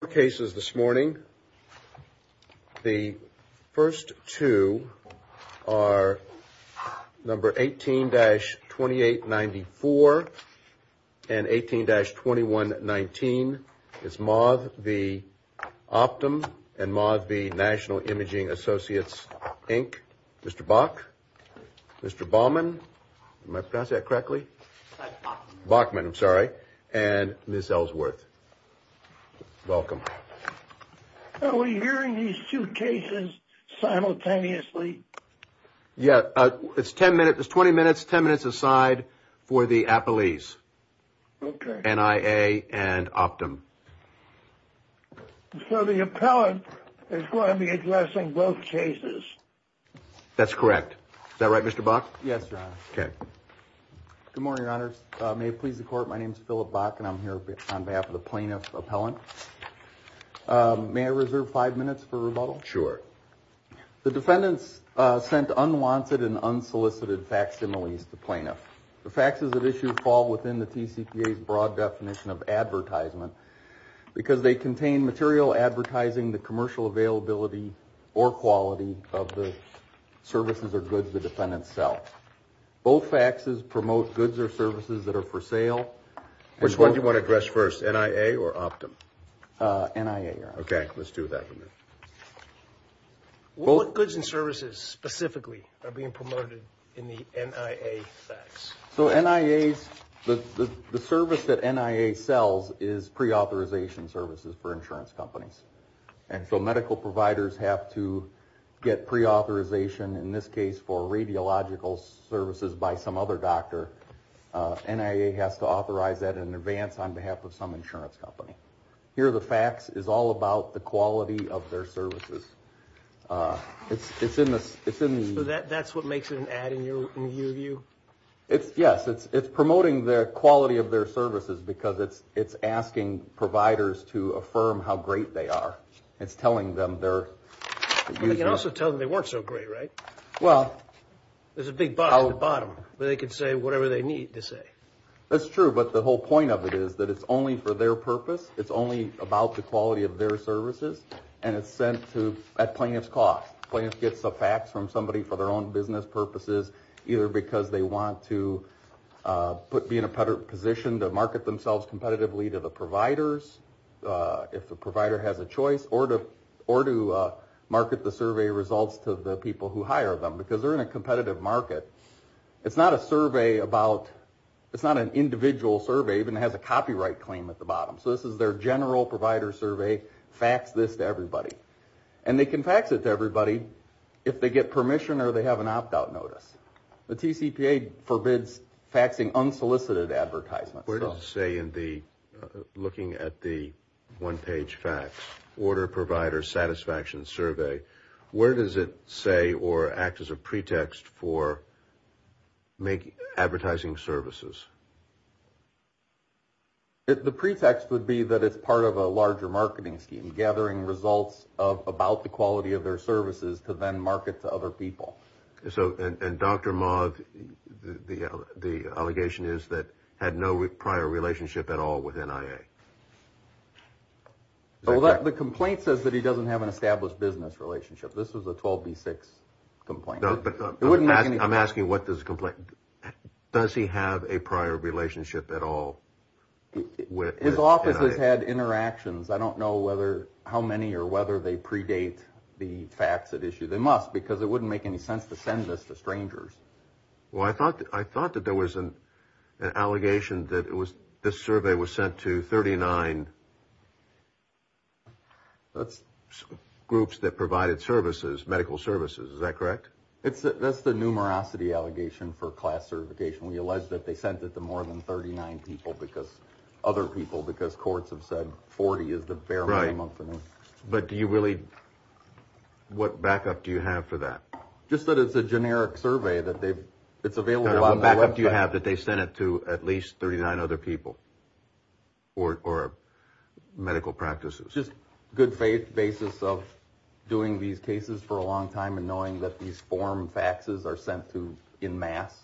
The cases this morning, the first two are number 18-2894 and 18-2119. It's Maud v. Optum and Maud v. National Imaging Associates, Inc., Mr. Bach, Mr. Bauman, am I pronouncing that correctly? Bachman. Bauman, I'm sorry, and Ms. Ellsworth. Welcome. Are we hearing these two cases simultaneously? Yeah, it's 20 minutes, 10 minutes aside for the Appellees, NIA and Optum. So the appellant is going to be addressing both cases? That's correct. Is that right, Mr. Bach? Yes, Your Honor. Okay. Good morning, Your Honors. May it please the Court, my name is Philip Bach, and I'm here on behalf of the Plaintiff Appellant. May I reserve five minutes for rebuttal? Sure. The defendants sent unwanted and unsolicited facsimiles to plaintiffs. The faxes that issue fall within the TCPA's broad definition of advertisement because they contain material advertising the commercial availability or quality of the services or goods the defendants sell. Both faxes promote goods or services that are for sale. Which one do you want to address first, NIA or Optum? NIA, Your Honor. Okay, let's do that. What goods and services specifically are being promoted in the NIA fax? So NIA's, the service that NIA sells is preauthorization services for insurance companies. And so medical providers have to get preauthorization, in this case for radiological services by some other doctor. NIA has to authorize that in advance on behalf of some insurance company. Here the fax is all about the quality of their services. It's in the... So that's what makes it an ad in your view? Yes, it's promoting the quality of their services because it's asking providers to affirm how great they are. It's telling them they're... You can also tell them they weren't so great, right? Well... There's a big box at the bottom where they can say whatever they need to say. That's true, but the whole point of it is that it's only for their purpose. It's only about the quality of their services, and it's sent at plaintiff's cost. Plaintiff gets a fax from somebody for their own business purposes, either because they want to be in a position to market themselves competitively to the providers, if the provider has a choice, or to market the survey results to the people who hire them because they're in a competitive market. It's not a survey about... It's not an individual survey. It even has a copyright claim at the bottom. So this is their general provider survey. Fax this to everybody. And they can fax it to everybody if they get permission or they have an opt-out notice. The TCPA forbids faxing unsolicited advertisements. Where does it say in the... Looking at the one-page fax, Order Provider Satisfaction Survey, where does it say or act as a pretext for advertising services? The pretext would be that it's part of a larger marketing scheme, gathering results about the quality of their services to then market to other people. And Dr. Moth, the allegation is that had no prior relationship at all with NIA? The complaint says that he doesn't have an established business relationship. This was a 12B6 complaint. I'm asking what does the complaint... Does he have a prior relationship at all with NIA? His office has had interactions. I don't know how many or whether they predate the facts at issue. They must because it wouldn't make any sense to send this to strangers. Well, I thought that there was an allegation that this survey was sent to 39 groups that provided services, medical services. Is that correct? That's the numerosity allegation for class certification. We allege that they sent it to more than 39 people, other people, because courts have said 40 is the bare minimum for me. But do you really... What backup do you have for that? Just that it's a generic survey. It's available on the website. What backup do you have that they sent it to at least 39 other people or medical practices? Just good faith basis of doing these cases for a long time and knowing that these form faxes are sent to en masse.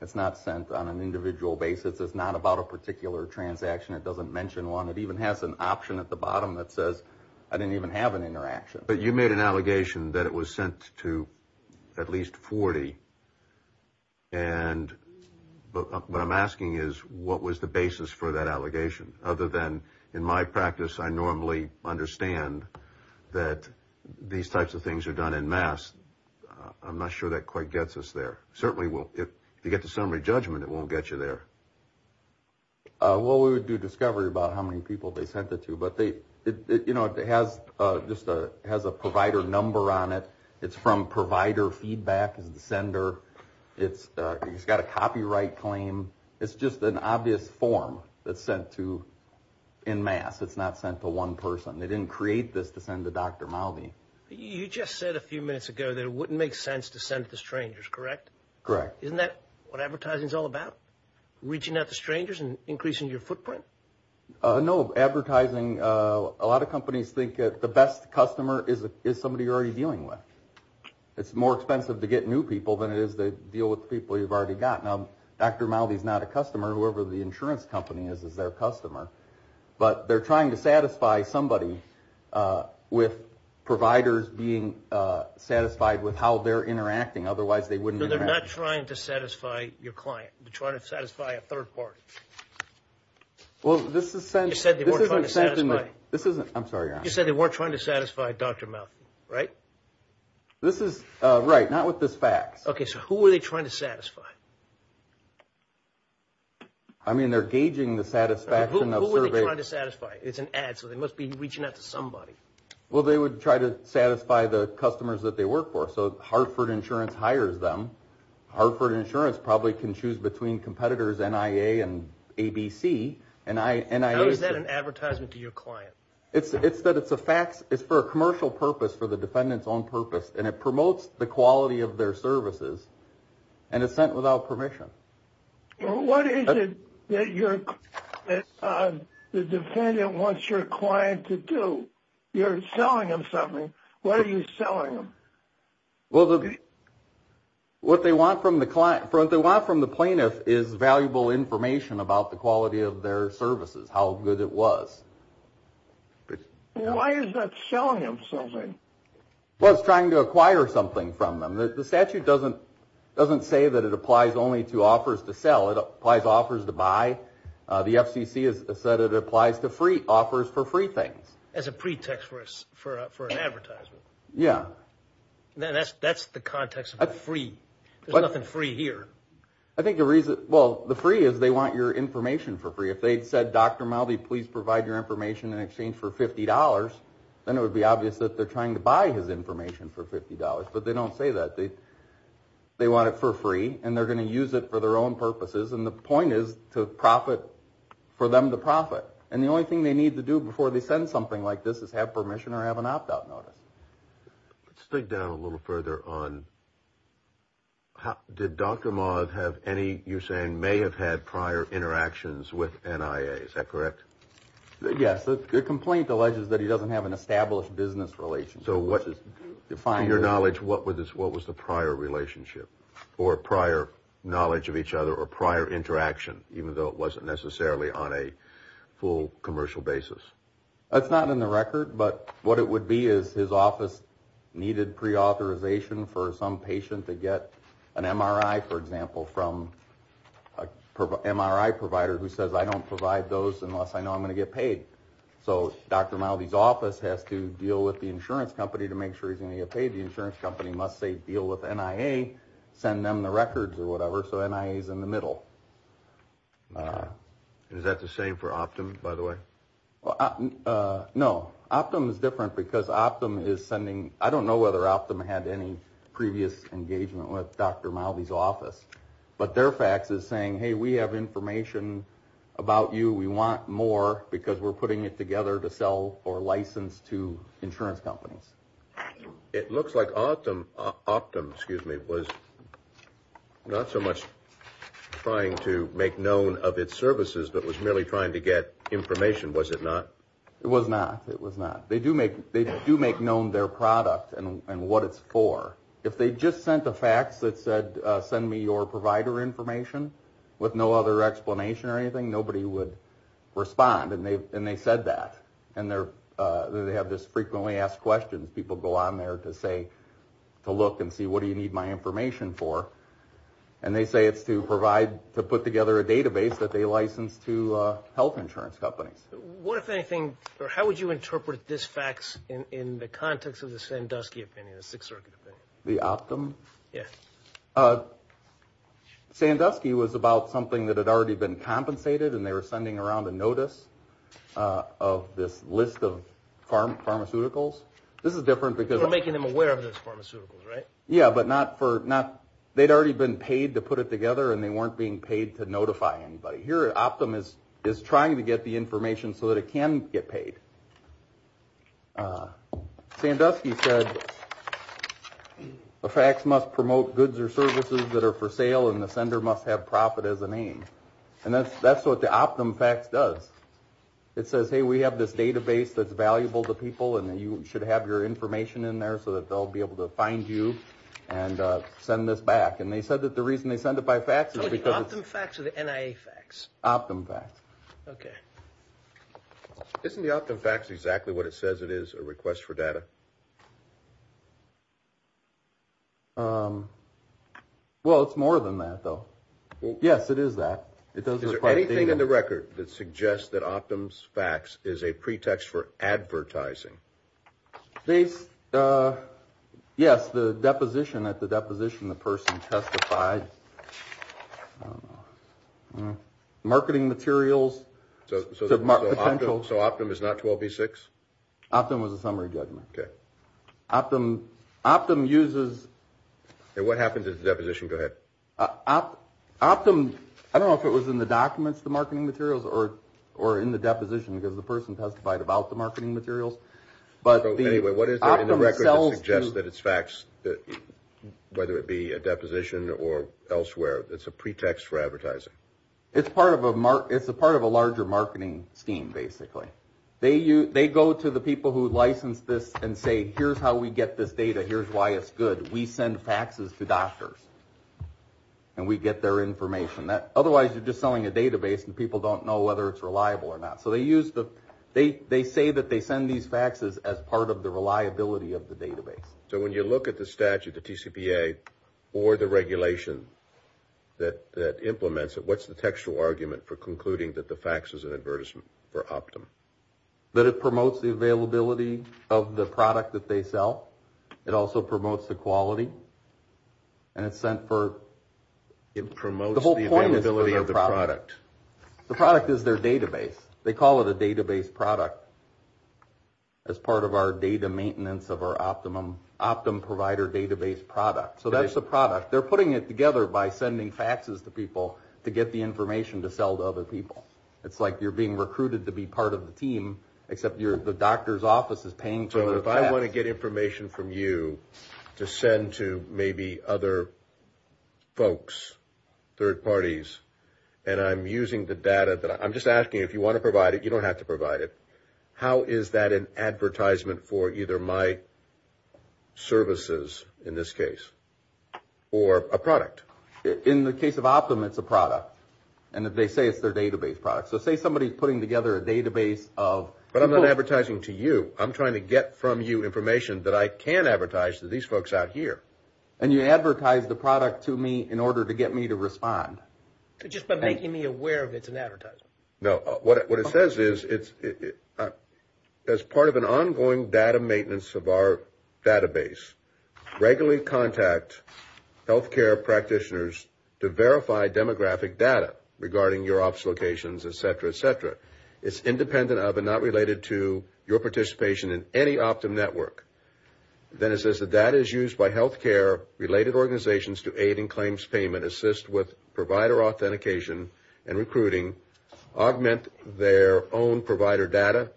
It's not sent on an individual basis. It's not about a particular transaction. It doesn't mention one. It even has an option at the bottom that says I didn't even have an interaction. But you made an allegation that it was sent to at least 40, and what I'm asking is what was the basis for that allegation other than in my practice I normally understand that these types of things are done en masse. I'm not sure that quite gets us there. Certainly, if you get to summary judgment, it won't get you there. Well, we would do discovery about how many people they sent it to, but it has a provider number on it. It's from provider feedback as the sender. It's got a copyright claim. It's just an obvious form that's sent to en masse. It's not sent to one person. They didn't create this to send to Dr. Mowdy. You just said a few minutes ago that it wouldn't make sense to send it to strangers, correct? Correct. Isn't that what advertising is all about, reaching out to strangers and increasing your footprint? No, advertising, a lot of companies think the best customer is somebody you're already dealing with. It's more expensive to get new people than it is to deal with people you've already got. Now, Dr. Mowdy is not a customer. Whoever the insurance company is is their customer. But they're trying to satisfy somebody with providers being satisfied with how they're interacting. Otherwise, they wouldn't interact. No, they're not trying to satisfy your client. They're trying to satisfy a third party. You said they weren't trying to satisfy Dr. Mowdy, right? Right, not with this fax. Okay, so who were they trying to satisfy? I mean, they're gauging the satisfaction of surveys. Who were they trying to satisfy? It's an ad, so they must be reaching out to somebody. Well, they would try to satisfy the customers that they work for. So Hartford Insurance hires them. Hartford Insurance probably can choose between competitors, NIA and ABC. How is that an advertisement to your client? It's that it's a fax. It's for a commercial purpose, for the defendant's own purpose, and it promotes the quality of their services. And it's sent without permission. What is it that the defendant wants your client to do? You're selling them something. What are you selling them? Well, what they want from the plaintiff is valuable information about the quality of their services, how good it was. Why is that selling them something? Well, it's trying to acquire something from them. The statute doesn't say that it applies only to offers to sell. It applies to offers to buy. The FCC has said it applies to offers for free things. As a pretext for an advertisement. Yeah. That's the context of free. There's nothing free here. Well, the free is they want your information for free. If they'd said, Dr. Maldi, please provide your information in exchange for $50, then it would be obvious that they're trying to buy his information for $50. But they don't say that. They want it for free. And they're going to use it for their own purposes. And the point is for them to profit. And the only thing they need to do before they send something like this is have permission or have an opt-out notice. Let's dig down a little further on did Dr. Maldi have any, you're saying may have had prior interactions with NIA. Is that correct? Yes. The complaint alleges that he doesn't have an established business relationship. In your knowledge, what was the prior relationship or prior knowledge of each other or prior interaction, even though it wasn't necessarily on a full commercial basis? That's not in the record. But what it would be is his office needed preauthorization for some patient to get an MRI, for example, from an MRI provider who says, I don't provide those unless I know I'm going to get paid. So Dr. Maldi's office has to deal with the insurance company to make sure he's going to get paid. The insurance company must say, deal with NIA, send them the records or whatever. So NIA is in the middle. Is that the same for Optum, by the way? No. Optum is different because Optum is sending, I don't know whether Optum had any previous engagement with Dr. Maldi's office. But their fax is saying, hey, we have information about you. We want more because we're putting it together to sell or license to insurance companies. It looks like Optum was not so much trying to make known of its services, but was merely trying to get information, was it not? It was not. It was not. They do make known their product and what it's for. If they just sent a fax that said, send me your provider information, with no other explanation or anything, nobody would respond and they said that. And they have this frequently asked question. People go on there to say, to look and see, what do you need my information for? And they say it's to provide, to put together a database that they license to health insurance companies. What, if anything, or how would you interpret this fax in the context of the Sandusky opinion, the Sixth Circuit opinion? The Optum? Yeah. Sandusky was about something that had already been compensated and they were sending around a notice of this list of pharmaceuticals. This is different because. We're making them aware of those pharmaceuticals, right? Yeah, but not for, not, they'd already been paid to put it together and they weren't being paid to notify anybody. Here Optum is trying to get the information so that it can get paid. Sandusky said, a fax must promote goods or services that are for sale and the sender must have profit as a name. And that's what the Optum fax does. It says, hey, we have this database that's valuable to people and that you should have your information in there so that they'll be able to find you and send this back. And they said that the reason they send it by fax is because. The Optum fax or the NIA fax? Optum fax. Okay. Isn't the Optum fax exactly what it says? It is a request for data. Well, it's more than that though. Well, yes, it is that. It does. Anything in the record that suggests that Optum's fax is a pretext for advertising. Yes. The deposition at the deposition, the person testified. Marketing materials. So Optum is not 12B6? Optum was a summary judgment. Okay. Optum uses. And what happened to the deposition? Go ahead. Optum, I don't know if it was in the documents, the marketing materials or in the deposition because the person testified about the marketing materials. But anyway, what is there in the record that suggests that it's fax, whether it be a deposition or elsewhere, it's a pretext for advertising. It's part of a larger marketing scheme, basically. They go to the people who licensed this and say, here's how we get this data. Here's why it's good. We send faxes to doctors and we get their information. Otherwise, you're just selling a database and people don't know whether it's reliable or not. So they say that they send these faxes as part of the reliability of the database. So when you look at the statute, the TCPA or the regulation that implements it, what's the textual argument for concluding that the fax is an advertisement for Optum? That it promotes the availability of the product that they sell. It also promotes the quality. And it's sent for. It promotes the availability of the product. The product is their database. They call it a database product as part of our data maintenance of our optimum provider database product. So that's the product. They're putting it together by sending faxes to people to get the information to sell to other people. It's like you're being recruited to be part of the team, except the doctor's office is paying for the fax. So if I want to get information from you to send to maybe other folks, third parties, and I'm using the data that I'm just asking you, if you want to provide it, you don't have to provide it. How is that an advertisement for either my services, in this case, or a product? In the case of Optum, it's a product. And they say it's their database product. So say somebody's putting together a database of. But I'm not advertising to you. I'm trying to get from you information that I can advertise to these folks out here. And you advertise the product to me in order to get me to respond. Just by making me aware of it's an advertisement. No. What it says is, as part of an ongoing data maintenance of our database, regularly contact health care practitioners to verify demographic data regarding your office locations, et cetera, et cetera. It's independent of and not related to your participation in any Optum network. Then it says the data is used by health care-related organizations to aid in claims payment, assist with provider authentication and recruiting, augment their own provider data,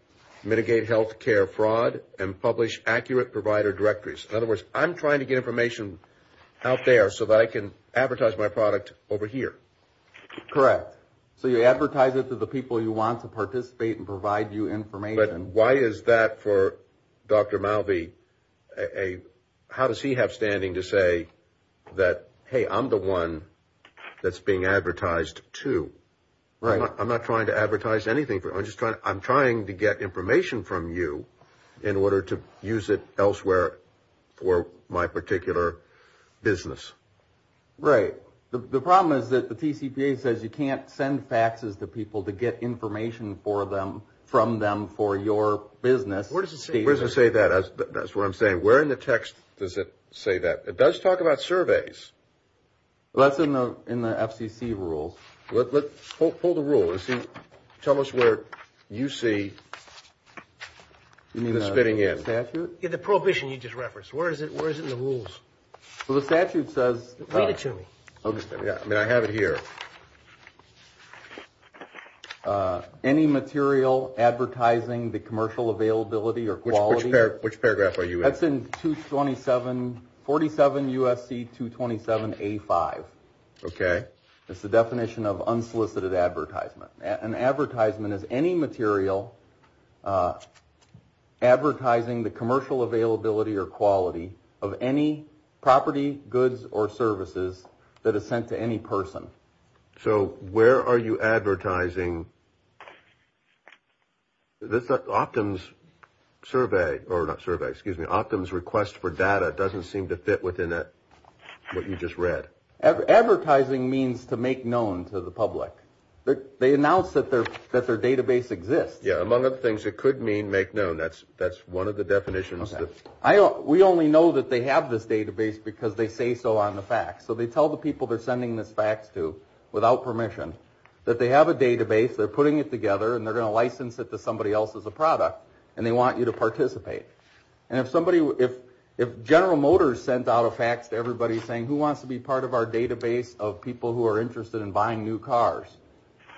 mitigate health care fraud, and publish accurate provider directories. In other words, I'm trying to get information out there so that I can advertise my product over here. Correct. So you advertise it to the people you want to participate and provide you information. But why is that for Dr. Malvey? How does he have standing to say that, hey, I'm the one that's being advertised to? I'm not trying to advertise anything. I'm trying to get information from you in order to use it elsewhere for my particular business. Right. The problem is that the TCPA says you can't send faxes to people to get information from them for your business. Where does it say that? That's what I'm saying. Where in the text does it say that? It does talk about surveys. That's in the FCC rules. Hold the rules. Tell us where you see this fitting in. The prohibition you just referenced. Where is it in the rules? The statute says. Read it to me. I have it here. Any material advertising the commercial availability or quality. Which paragraph are you in? That's in 47 U.S.C. 227A5. Okay. It's the definition of unsolicited advertisement. An advertisement is any material advertising the commercial availability or quality of any property, goods, or services that is sent to any person. So where are you advertising? That's not Optum's survey. Or not survey. Excuse me. Optum's request for data doesn't seem to fit within what you just read. Advertising means to make known to the public. They announced that their database exists. Among other things, it could mean make known. That's one of the definitions. We only know that they have this database because they say so on the fax. So they tell the people they're sending this fax to without permission that they have a database, they're putting it together, and they're going to license it to somebody else as a product, and they want you to participate. And if General Motors sent out a fax to everybody saying who wants to be part of our database of people who are interested in buying new cars,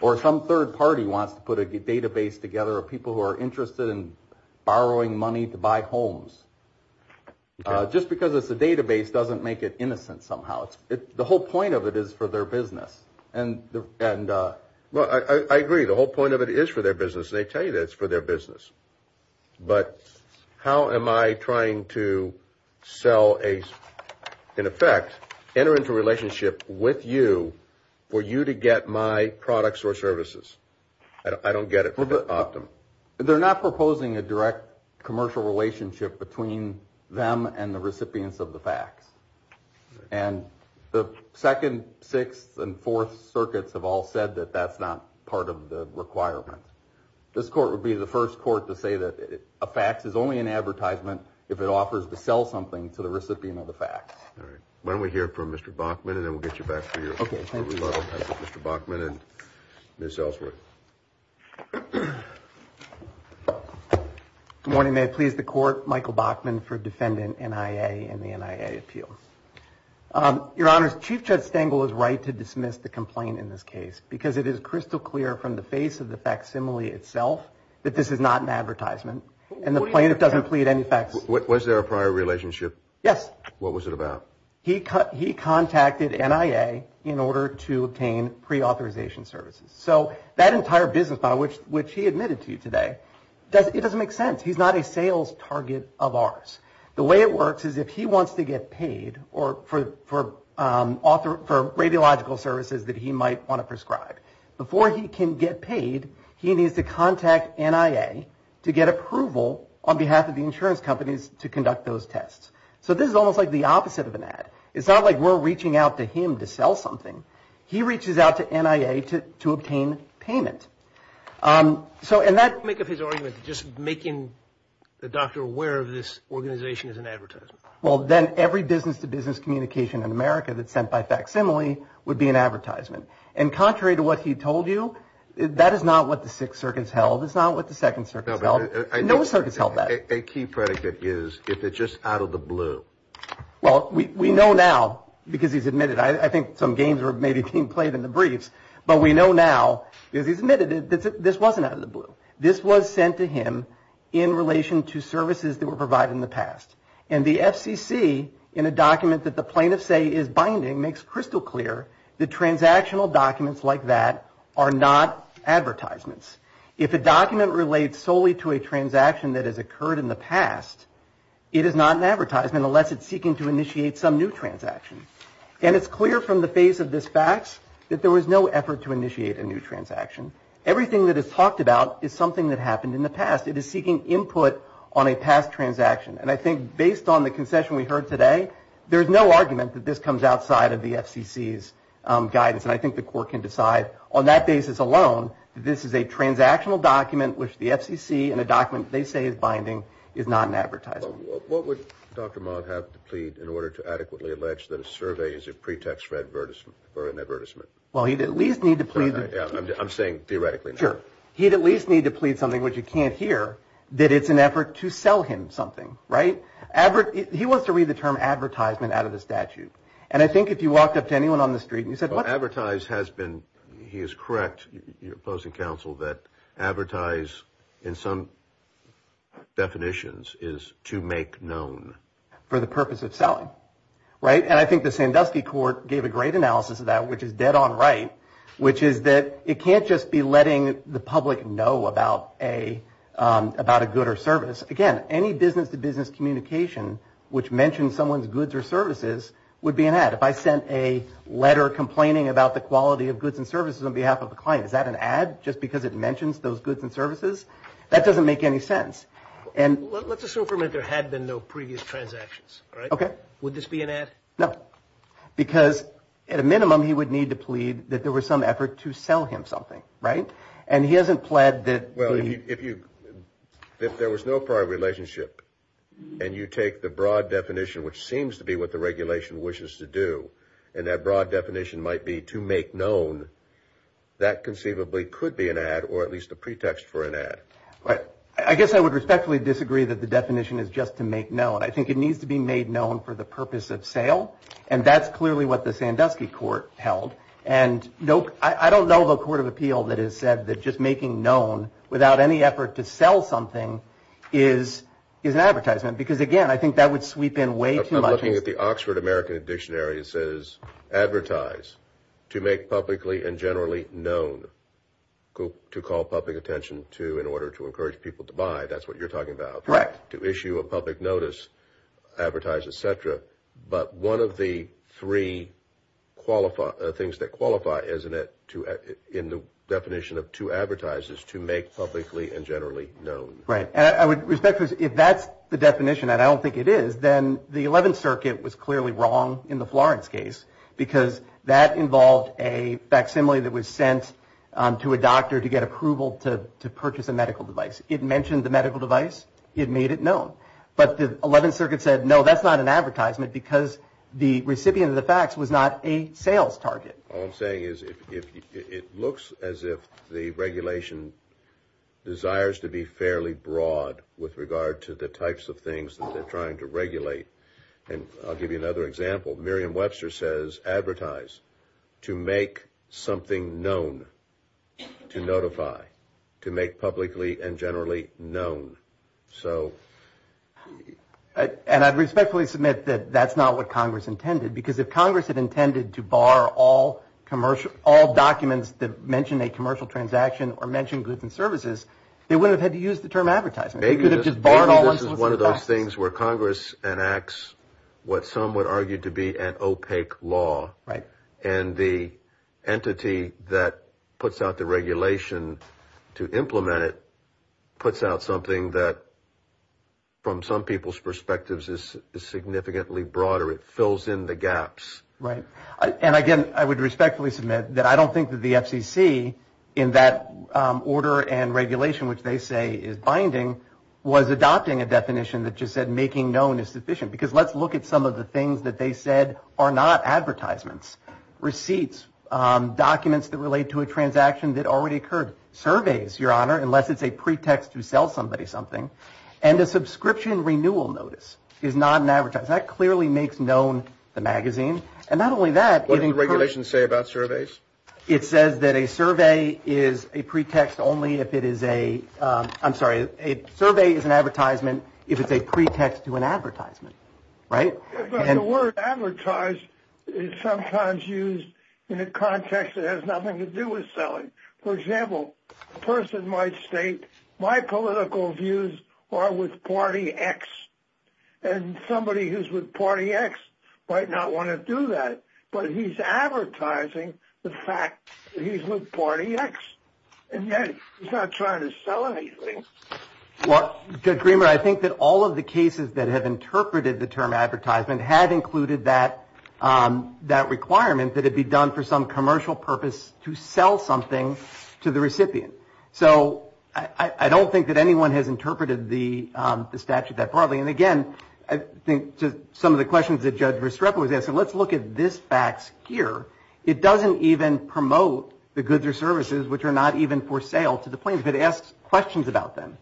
or some third party wants to put a database together of people who are interested in borrowing money to buy homes, just because it's a database doesn't make it innocent somehow. The whole point of it is for their business. Well, I agree. The whole point of it is for their business. They tell you that it's for their business. But how am I trying to sell a, in effect, enter into a relationship with you for you to get my products or services? I don't get it from the optimum. They're not proposing a direct commercial relationship between them and the recipients of the fax. And the second, sixth, and fourth circuits have all said that that's not part of the requirement. This court would be the first court to say that a fax is only an advertisement if it offers to sell something to the recipient of the fax. All right. Why don't we hear from Mr. Bachman, and then we'll get you back for your rebuttal. Mr. Bachman and Ms. Ellsworth. Good morning. May it please the court. Michael Bachman for defendant NIA and the NIA appeals. Your honors, Chief Judge Stengel is right to dismiss the complaint in this case because it is that this is not an advertisement. And the plaintiff doesn't plead any facts. Was there a prior relationship? Yes. What was it about? He contacted NIA in order to obtain pre-authorization services. So that entire business model, which he admitted to you today, it doesn't make sense. He's not a sales target of ours. Before he can get paid, he needs to contact NIA to get approval on behalf of the insurance companies to conduct those tests. So this is almost like the opposite of an ad. It's not like we're reaching out to him to sell something. He reaches out to NIA to obtain payment. So in that make of his argument, just making the doctor aware of this organization is an advertisement. Well, then every business to business communication in America that's sent by facsimile would be an advertisement. And contrary to what he told you, that is not what the Sixth Circuit's held. It's not what the Second Circuit's held. No circuit's held that. A key predicate is if it's just out of the blue. Well, we know now because he's admitted, I think some games were maybe being played in the briefs, but we know now because he's admitted that this wasn't out of the blue. This was sent to him in relation to services that were provided in the past. And the FCC in a document that the plaintiff say is binding makes crystal clear. The transactional documents like that are not advertisements. If a document relates solely to a transaction that has occurred in the past, it is not an advertisement unless it's seeking to initiate some new transaction. And it's clear from the face of this facts that there was no effort to initiate a new transaction. Everything that is talked about is something that happened in the past. It is seeking input on a past transaction. And I think based on the concession we heard today, there is no argument that this comes outside of the FCC's guidance. And I think the court can decide on that basis alone that this is a transactional document, which the FCC in a document they say is binding is not an advertisement. What would Dr. Mott have to plead in order to adequately allege that a survey is a pretext for an advertisement? Well, he'd at least need to plead. I'm saying theoretically. Sure. He'd at least need to plead something which you can't hear that it's an effort to sell him something. Right. He wants to read the term advertisement out of the statute. And I think if you walked up to anyone on the street and you said advertise has been he is correct. You're opposing counsel that advertise in some definitions is to make known for the purpose of selling. Right. And I think the Sandusky court gave a great analysis of that, which is dead on. Right. Which is that it can't just be letting the public know about a about a good or service. Again, any business to business communication which mentioned someone's goods or services would be an ad. If I sent a letter complaining about the quality of goods and services on behalf of the client, is that an ad just because it mentions those goods and services? That doesn't make any sense. And let's assume there had been no previous transactions. OK. Would this be an ad? No, because at a minimum, he would need to plead that there was some effort to sell him something. Right. And he hasn't pled that. Well, if you if there was no prior relationship and you take the broad definition, which seems to be what the regulation wishes to do, and that broad definition might be to make known that conceivably could be an ad or at least a pretext for an ad. Right. I guess I would respectfully disagree that the definition is just to make known. I think it needs to be made known for the purpose of sale. And that's clearly what the Sandusky court held. And no, I don't know of a court of appeal that has said that just making known without any effort to sell something is is an advertisement. Because, again, I think that would sweep in way too much. Looking at the Oxford American Dictionary, it says advertise to make publicly and generally known to call public attention to in order to encourage people to buy. That's what you're talking about. Right. To issue a public notice, advertise, et cetera. But one of the three qualify things that qualify, isn't it? To in the definition of to advertise is to make publicly and generally known. Right. I would respect if that's the definition and I don't think it is. Then the 11th Circuit was clearly wrong in the Florence case because that involved a facsimile that was sent to a doctor to get approval to purchase a medical device. It mentioned the medical device. It made it known. But the 11th Circuit said, no, that's not an advertisement because the recipient of the facts was not a sales target. All I'm saying is if it looks as if the regulation desires to be fairly broad with regard to the types of things that they're trying to regulate. And I'll give you another example. Miriam Webster says advertise to make something known to notify to make publicly and generally known. So and I'd respectfully submit that that's not what Congress intended, because if Congress had intended to bar all commercial, all documents that mention a commercial transaction or mentioned goods and services, they would have had to use the term advertising. They could have just bought all of those things where Congress enacts what some would argue to be an opaque law. Right. And the entity that puts out the regulation to implement it puts out something that. From some people's perspectives, this is significantly broader. It fills in the gaps. Right. And again, I would respectfully submit that I don't think that the FCC in that order and regulation, which they say is binding, was adopting a definition that just said making known is sufficient, because let's look at some of the things that they said are not advertisements, receipts, documents that relate to a transaction that already occurred, surveys, Your Honor, unless it's a pretext to sell somebody something and a subscription renewal notice is not an advertiser. That clearly makes known the magazine. And not only that, but regulations say about surveys. It says that a survey is a pretext only if it is a I'm sorry, a survey is an advertisement if it's a pretext to an advertisement. Right. And the word advertised is sometimes used in a context that has nothing to do with selling. For example, a person might state my political views are with party X and somebody who's with party X might not want to do that. But he's advertising the fact that he's with party X and yet he's not trying to sell anything. What agreement? I think that all of the cases that have interpreted the term advertisement had included that, that requirement that it be done for some commercial purpose to sell something to the recipient. So I don't think that anyone has interpreted the statute that probably. And again, I think some of the questions that Judge Restrepo was asking, let's look at this facts here. It doesn't even promote the goods or services which are not even for sale to the plaintiff. It asks questions about them.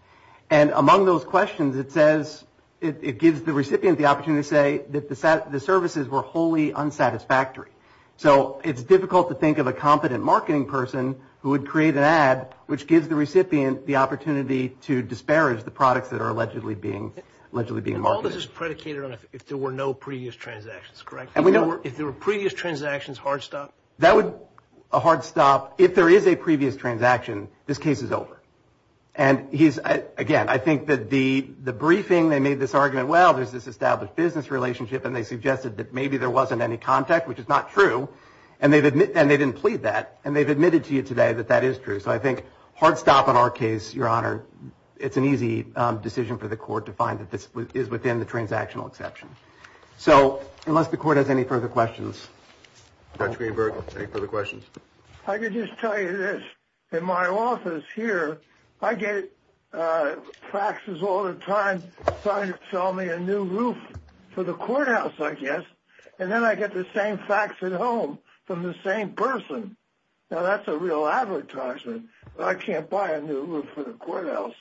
And among those questions, it says it gives the recipient the opportunity to say that the services were wholly unsatisfactory. So it's difficult to think of a competent marketing person who would create an ad which gives the recipient the opportunity to disparage the products that are allegedly being, allegedly being marketed. All this is predicated on if there were no previous transactions, correct? If there were previous transactions, hard stop? That would, a hard stop, if there is a previous transaction, this case is over. And he's, again, I think that the briefing, they made this argument, well, there's this established business relationship and they suggested that maybe there wasn't any contact, which is not true. And they didn't plead that. And they've admitted to you today that that is true. So I think hard stop on our case, Your Honor. It's an easy decision for the court to find that this is within the transactional exception. So unless the court has any further questions. Judge Greenberg, any further questions? I could just tell you this. In my office here, I get faxes all the time trying to sell me a new roof for the courthouse, I guess. And then I get the same fax at home from the same person. Now, that's a real advertisement. I can't buy a new roof for the courthouse.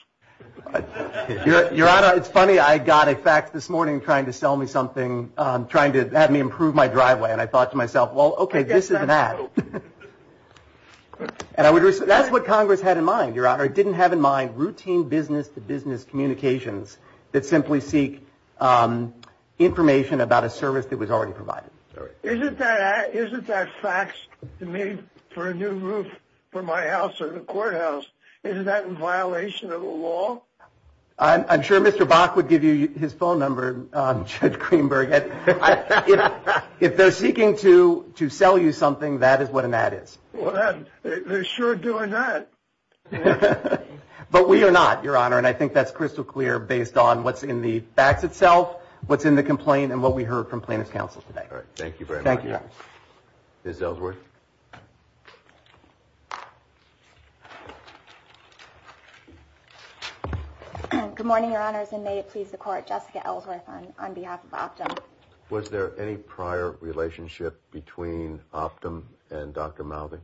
Your Honor, it's funny, I got a fax this morning trying to sell me something, trying to have me improve my driveway. And I thought to myself, well, OK, this is an ad. And I would, that's what Congress had in mind, Your Honor. It didn't have in mind routine business to business communications that simply seek information about a service that was already provided. Isn't that fax to me for a new roof for my house or the courthouse, isn't that in violation of the law? I'm sure Mr. Bach would give you his phone number, Judge Greenberg. If they're seeking to sell you something, that is what an ad is. They're sure doing that. But we are not, Your Honor. And I think that's crystal clear based on what's in the fax itself, what's in the complaint, and what we heard from plaintiff's counsel today. All right. Thank you very much. Thank you. Ms. Ellsworth. Good morning, Your Honors, and may it please the Court, Jessica Ellsworth on behalf of Optum. Was there any prior relationship between Optum and Dr. Mouthing?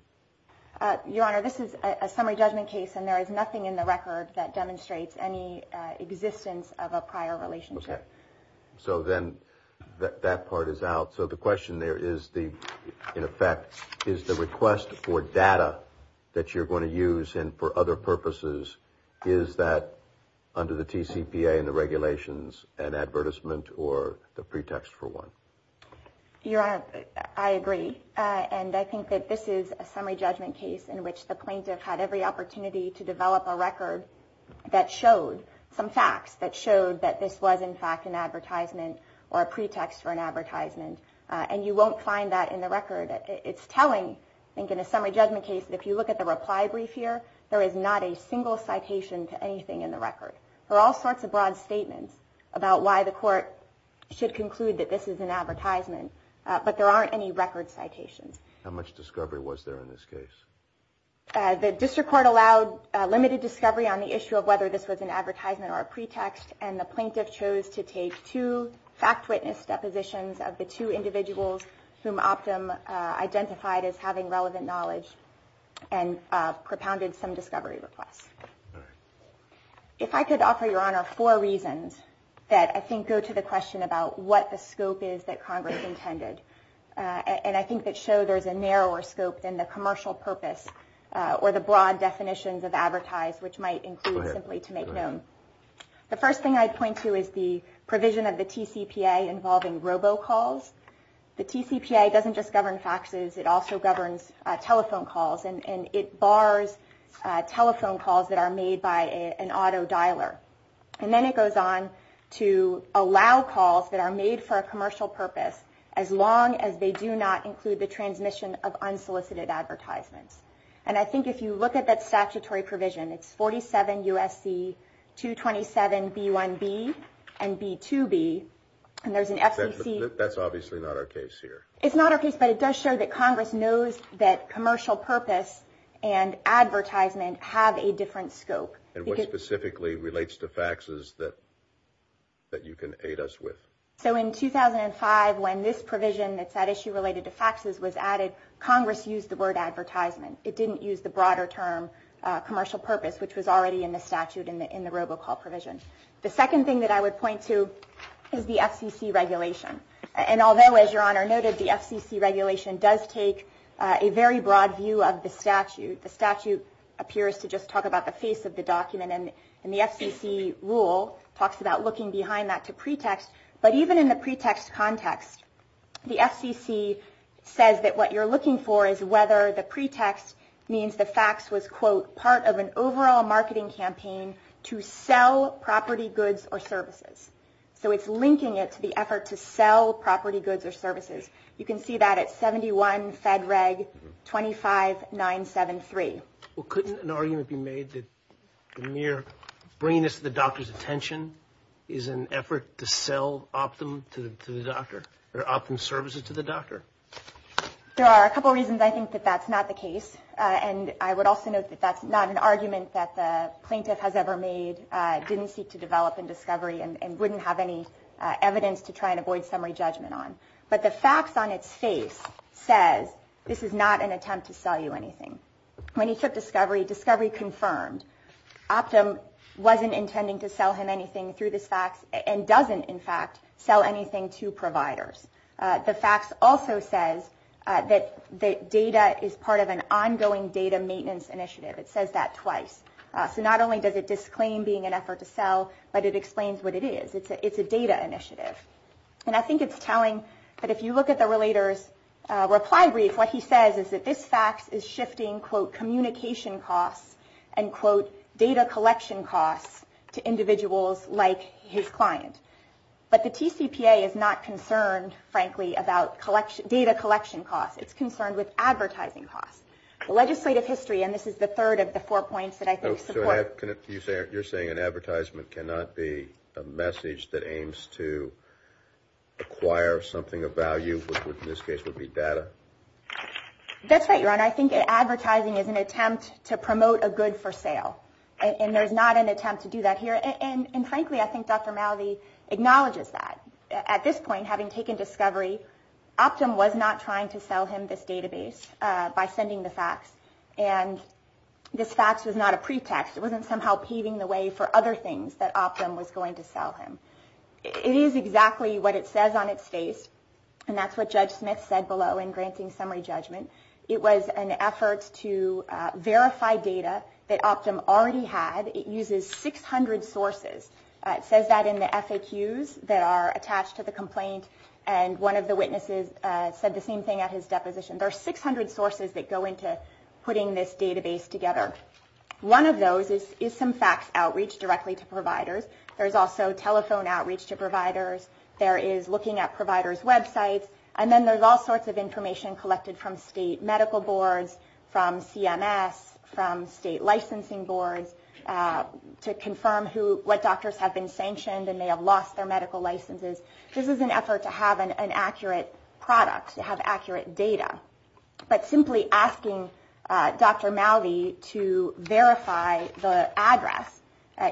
Your Honor, this is a summary judgment case, and there is nothing in the record that demonstrates any existence of a prior relationship. Okay. So then that part is out. So the question there is, in effect, is the request for data that you're going to use and for other purposes, is that under the TCPA and the regulations an advertisement or the pretext for one? Your Honor, I agree. And I think that this is a summary judgment case in which the plaintiff had every opportunity to develop a record that showed some facts, that showed that this was, in fact, an advertisement or a pretext for an advertisement. And you won't find that in the record. It's telling, I think, in a summary judgment case that if you look at the reply brief here, there is not a single citation to anything in the record. There are all sorts of broad statements about why the Court should conclude that this is an advertisement, but there aren't any record citations. How much discovery was there in this case? The district court allowed limited discovery on the issue of whether this was an advertisement or a pretext, and the plaintiff chose to take two fact witness depositions of the two individuals whom Optum identified as having relevant knowledge All right. I could offer, Your Honor, four reasons that I think go to the question about what the scope is that Congress intended, and I think that show there's a narrower scope than the commercial purpose or the broad definitions of advertise, which might include simply to make known. The first thing I'd point to is the provision of the TCPA involving robocalls. The TCPA doesn't just govern faxes. It also governs telephone calls, and it bars telephone calls that are made by an auto dialer. And then it goes on to allow calls that are made for a commercial purpose, as long as they do not include the transmission of unsolicited advertisements. And I think if you look at that statutory provision, it's 47 U.S.C. 227B1B and B2B, and there's an FCC. That's obviously not our case here. It's not our case, but it does show that Congress knows that commercial purpose and advertisement have a different scope. And what specifically relates to faxes that you can aid us with? So in 2005, when this provision that's at issue related to faxes was added, Congress used the word advertisement. It didn't use the broader term commercial purpose, which was already in the statute in the robocall provision. The second thing that I would point to is the FCC regulation. And although, as Your Honor noted, the FCC regulation does take a very broad view of the statute, the statute appears to just talk about the face of the document. And the FCC rule talks about looking behind that to pretext. But even in the pretext context, the FCC says that what you're looking for is whether the pretext means the fax was, quote, part of an overall marketing campaign to sell property goods or services. So it's linking it to the effort to sell property goods or services. You can see that at 71 Fed Reg 25973. Well, couldn't an argument be made that the mere bringing this to the doctor's attention is an effort to sell optum to the doctor, or optum services to the doctor? There are a couple reasons I think that that's not the case. And I would also note that that's not an argument that the plaintiff has ever made, didn't seek to develop in discovery, and wouldn't have any evidence to try and avoid summary judgment on. But the fax on its face says this is not an attempt to sell you anything. When he took discovery, discovery confirmed. Optum wasn't intending to sell him anything through this fax and doesn't, in fact, sell anything to providers. The fax also says that data is part of an ongoing data maintenance initiative. It says that twice. So not only does it disclaim being an effort to sell, but it explains what it is. It's a data initiative. And I think it's telling that if you look at the relator's reply brief, what he says is that this fax is shifting, quote, communication costs and, quote, data collection costs to individuals like his client. But the TCPA is not concerned, frankly, about data collection costs. It's concerned with advertising costs. Legislative history, and this is the third of the four points that I think support. You're saying an advertisement cannot be a message that aims to acquire something of value, which in this case would be data? That's right, Your Honor. I think advertising is an attempt to promote a good for sale. And there's not an attempt to do that here. And, frankly, I think Dr. Malvi acknowledges that. At this point, having taken discovery, Optum was not trying to sell him this database by sending the fax. And this fax was not a pretext. It wasn't somehow paving the way for other things that Optum was going to sell him. It is exactly what it says on its face, and that's what Judge Smith said below in granting summary judgment. It was an effort to verify data that Optum already had. It uses 600 sources. It says that in the FAQs that are attached to the complaint, and one of the witnesses said the same thing at his deposition. There are 600 sources that go into putting this database together. One of those is some fax outreach directly to providers. There's also telephone outreach to providers. There is looking at providers' websites. And then there's all sorts of information collected from state medical boards, from CMS, from state licensing boards, to confirm what doctors have been sanctioned and may have lost their medical licenses. This is an effort to have an accurate product, to have accurate data. But simply asking Dr. Malvi to verify the address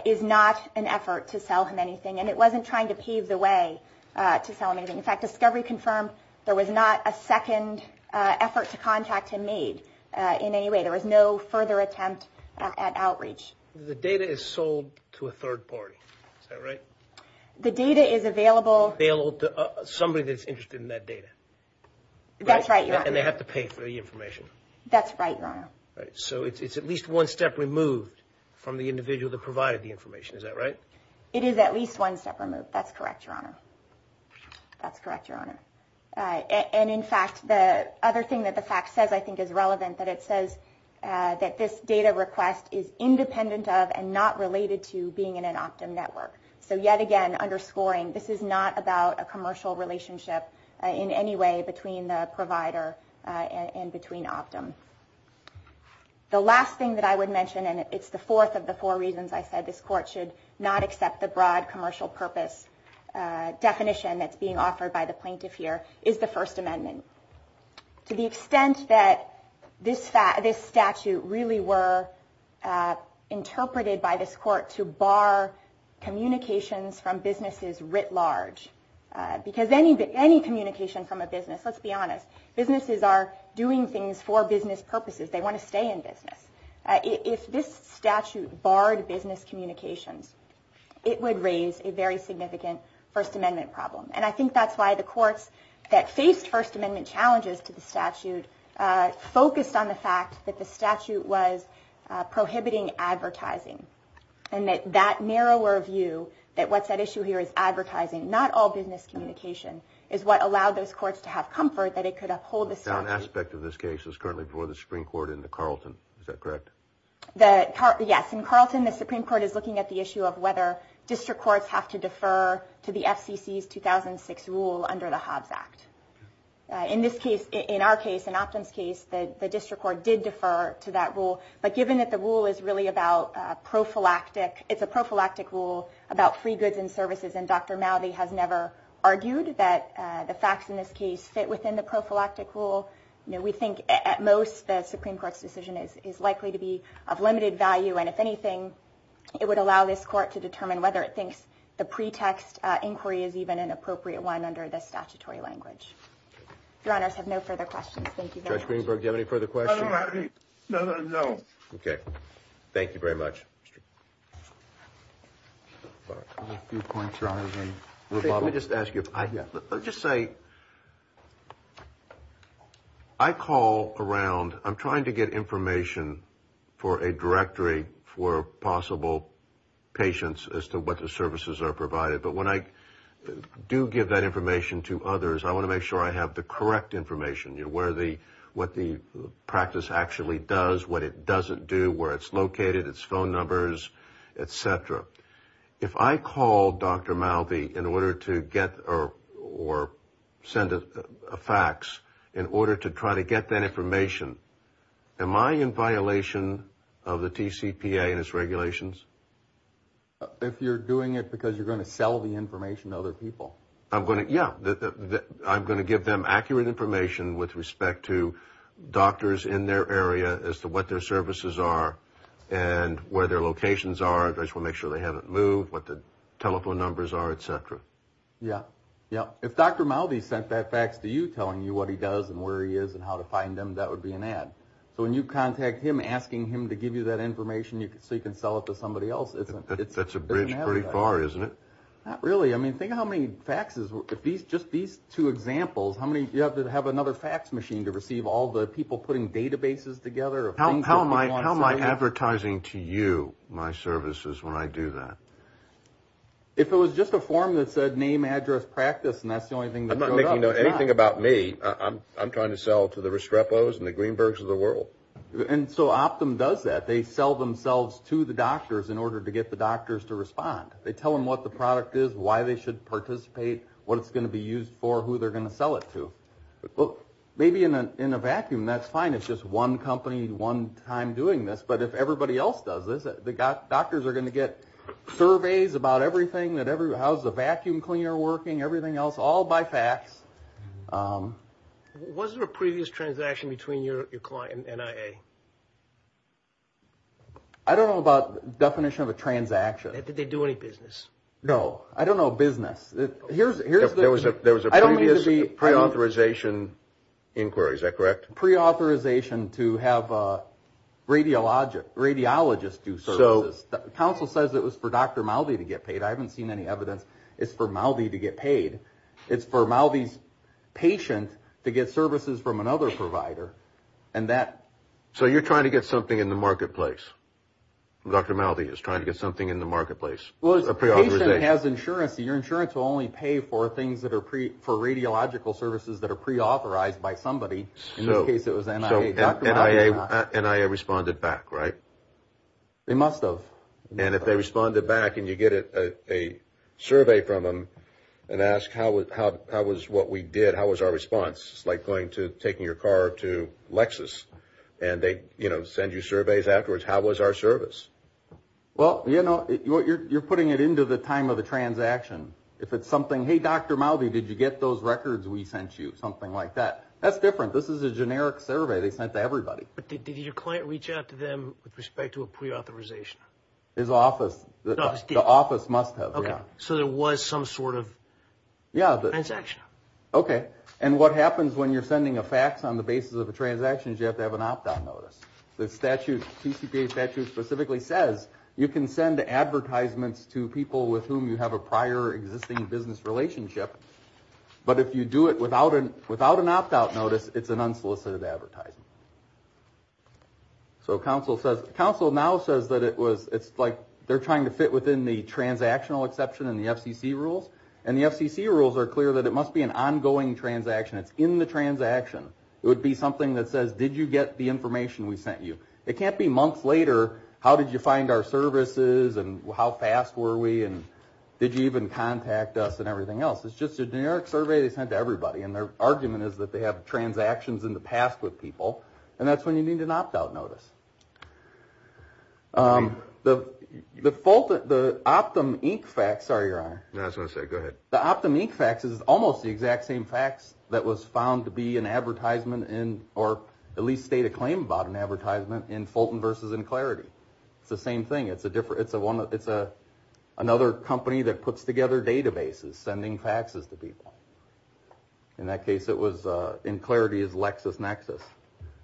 is not an effort to sell him anything, and it wasn't trying to pave the way to sell him anything. In fact, discovery confirmed there was not a second effort to contact him made in any way. There was no further attempt at outreach. The data is sold to a third party. Is that right? The data is available. Available to somebody that's interested in that data. That's right, Your Honor. And they have to pay for the information. That's right, Your Honor. So it's at least one step removed from the individual that provided the information. Is that right? That's correct, Your Honor. That's correct, Your Honor. And, in fact, the other thing that the fact says, I think, is relevant, that it says that this data request is independent of and not related to being in an Optum network. So, yet again, underscoring this is not about a commercial relationship in any way between the provider and between Optum. The last thing that I would mention, and it's the fourth of the four reasons I said this court should not accept the broad commercial purpose definition that's being offered by the plaintiff here, is the First Amendment. To the extent that this statute really were interpreted by this court to bar communications from businesses writ large, because any communication from a business, let's be honest, businesses are doing things for business purposes. They want to stay in business. If this statute barred business communications, it would raise a very significant First Amendment problem. And I think that's why the courts that faced First Amendment challenges to the statute focused on the fact that the statute was prohibiting advertising and that that narrower view, that what's at issue here is advertising, not all business communication, is what allowed those courts to have comfort that it could uphold the statute. The last aspect of this case is currently before the Supreme Court in the Carlton. Is that correct? Yes. In Carlton, the Supreme Court is looking at the issue of whether district courts have to defer to the FCC's 2006 rule under the Hobbs Act. In this case, in our case, in Optum's case, the district court did defer to that rule. But given that the rule is really about prophylactic, it's a prophylactic rule about free goods and services, and Dr. Mowdy has never argued that the facts in this case fit within the prophylactic rule. We think at most the Supreme Court's decision is likely to be of limited value. And if anything, it would allow this court to determine whether it thinks the pretext inquiry is even an appropriate one under the statutory language. Your honors have no further questions. Thank you. Judge Greenberg, do you have any further questions? No. Okay. Thank you very much. Let me just ask you, I'll just say I call around. I'm trying to get information for a directory for possible patients as to what the services are provided. But when I do give that information to others, I want to make sure I have the correct information, what the practice actually does, what it doesn't do, where it's located, its phone numbers, et cetera. If I call Dr. Mowdy in order to get or send a fax in order to try to get that information, am I in violation of the TCPA and its regulations? If you're doing it because you're going to sell the information to other people. Yeah. I'm going to give them accurate information with respect to doctors in their area as to what their services are and where their locations are. I just want to make sure they haven't moved, what the telephone numbers are, et cetera. Yeah. Yeah. If Dr. Mowdy sent that fax to you telling you what he does and where he is and how to find him, that would be an ad. So when you contact him asking him to give you that information so you can sell it to somebody else, it's an ad. That's a bridge pretty far, isn't it? Not really. I mean, think of how many faxes, just these two examples, how many you have to have another fax machine to receive all the people putting databases together. How am I advertising to you my services when I do that? If it was just a form that said name, address, practice, and that's the only thing that showed up. I'm not making anything about me. I'm trying to sell to the Restrepos and the Greenbergs of the world. And so Optum does that. They sell themselves to the doctors in order to get the doctors to respond. They tell them what the product is, why they should participate, what it's going to be used for, who they're going to sell it to. Maybe in a vacuum, that's fine. It's just one company, one time doing this. But if everybody else does this, the doctors are going to get surveys about everything, how's the vacuum cleaner working, everything else, all by fax. Was there a previous transaction between your client and NIA? I don't know about definition of a transaction. Did they do any business? No. I don't know business. There was a previous preauthorization inquiry, is that correct? Preauthorization to have a radiologist do services. The council says it was for Dr. Maldi to get paid. I haven't seen any evidence. It's for Maldi to get paid. It's for Maldi's patient to get services from another provider. So you're trying to get something in the marketplace. Dr. Maldi is trying to get something in the marketplace, a preauthorization. If a patient has insurance, your insurance will only pay for radiological services that are preauthorized by somebody. In this case, it was NIA. So NIA responded back, right? They must have. And if they responded back and you get a survey from them and ask how was what we did, how was our response, it's like taking your car to Lexus and they send you surveys afterwards. How was our service? Well, you're putting it into the time of the transaction. If it's something, hey, Dr. Maldi, did you get those records we sent you? Something like that. That's different. This is a generic survey they sent to everybody. But did your client reach out to them with respect to a preauthorization? His office. The office must have, yeah. So there was some sort of transaction. Okay. And what happens when you're sending a fax on the basis of a transaction is you have to have an opt-out notice. The statute, the TCPA statute specifically says you can send advertisements to people with whom you have a prior existing business relationship. But if you do it without an opt-out notice, it's an unsolicited advertisement. So counsel now says that it's like they're trying to fit within the transactional exception in the FCC rules. And the FCC rules are clear that it must be an ongoing transaction. It's in the transaction. It would be something that says, did you get the information we sent you? It can't be months later, how did you find our services and how fast were we and did you even contact us and everything else. It's just a generic survey they sent to everybody. And their argument is that they have transactions in the past with people. And that's when you need an opt-out notice. The Optum Inc fax, sorry, Your Honor. I was going to say, go ahead. The Optum Inc fax is almost the exact same fax that was found to be an advertisement in, or at least state a claim about an advertisement in Fulton v. Inclarity. It's the same thing. It's another company that puts together databases sending faxes to people. In that case, it was Inclarity's LexisNexis.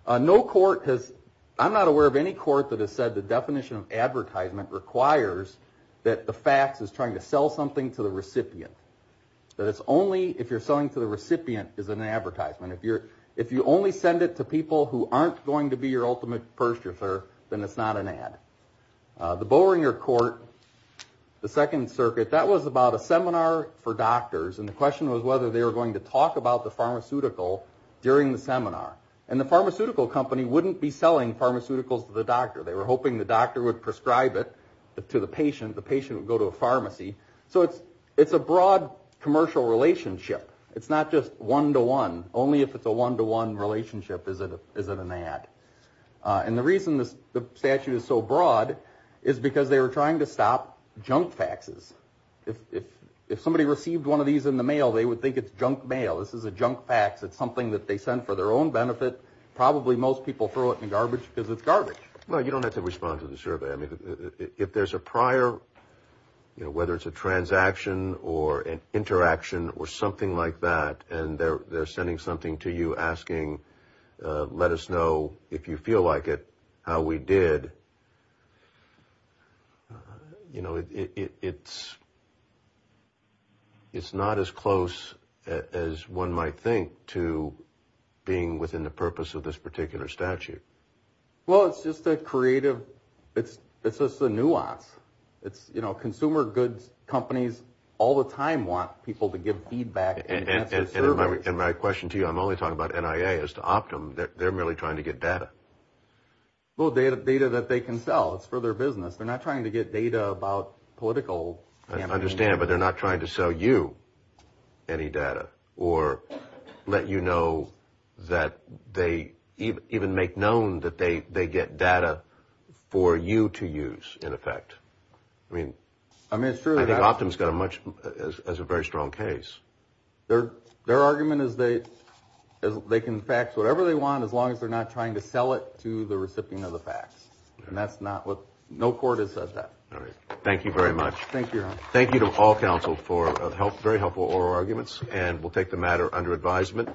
No court has, I'm not aware of any court that has said the definition of advertisement requires that the fax is trying to sell something to the recipient. That it's only if you're selling to the recipient is an advertisement. If you only send it to people who aren't going to be your ultimate purchaser, then it's not an ad. The Bowringer Court, the Second Circuit, that was about a seminar for doctors. And the question was whether they were going to talk about the pharmaceutical during the seminar. And the pharmaceutical company wouldn't be selling pharmaceuticals to the doctor. They were hoping the doctor would prescribe it to the patient. The patient would go to a pharmacy. So it's a broad commercial relationship. It's not just one-to-one. Only if it's a one-to-one relationship is it an ad. And the reason the statute is so broad is because they were trying to stop junk faxes. If somebody received one of these in the mail, they would think it's junk mail. This is a junk fax. It's something that they sent for their own benefit. Probably most people throw it in the garbage because it's garbage. Well, you don't have to respond to the survey. If there's a prior, whether it's a transaction or an interaction or something like that, and they're sending something to you asking, let us know if you feel like it, how we did, you know, it's not as close as one might think to being within the purpose of this particular statute. Well, it's just a creative, it's just a nuance. It's, you know, consumer goods companies all the time want people to give feedback and answer surveys. And my question to you, I'm only talking about NIA as to Optum. They're merely trying to get data. Well, data that they can sell. It's for their business. They're not trying to get data about political campaigns. I understand, but they're not trying to sell you any data or let you know that they even make known that they get data for you to use, in effect. I mean, I think Optum's got a very strong case. Their argument is they can fax whatever they want as long as they're not trying to sell it to the recipient of the fax. And that's not what, no court has said that. All right. Thank you very much. Thank you, Your Honor. Thank you to all counsel for very helpful oral arguments, and we'll take the matter under advisement.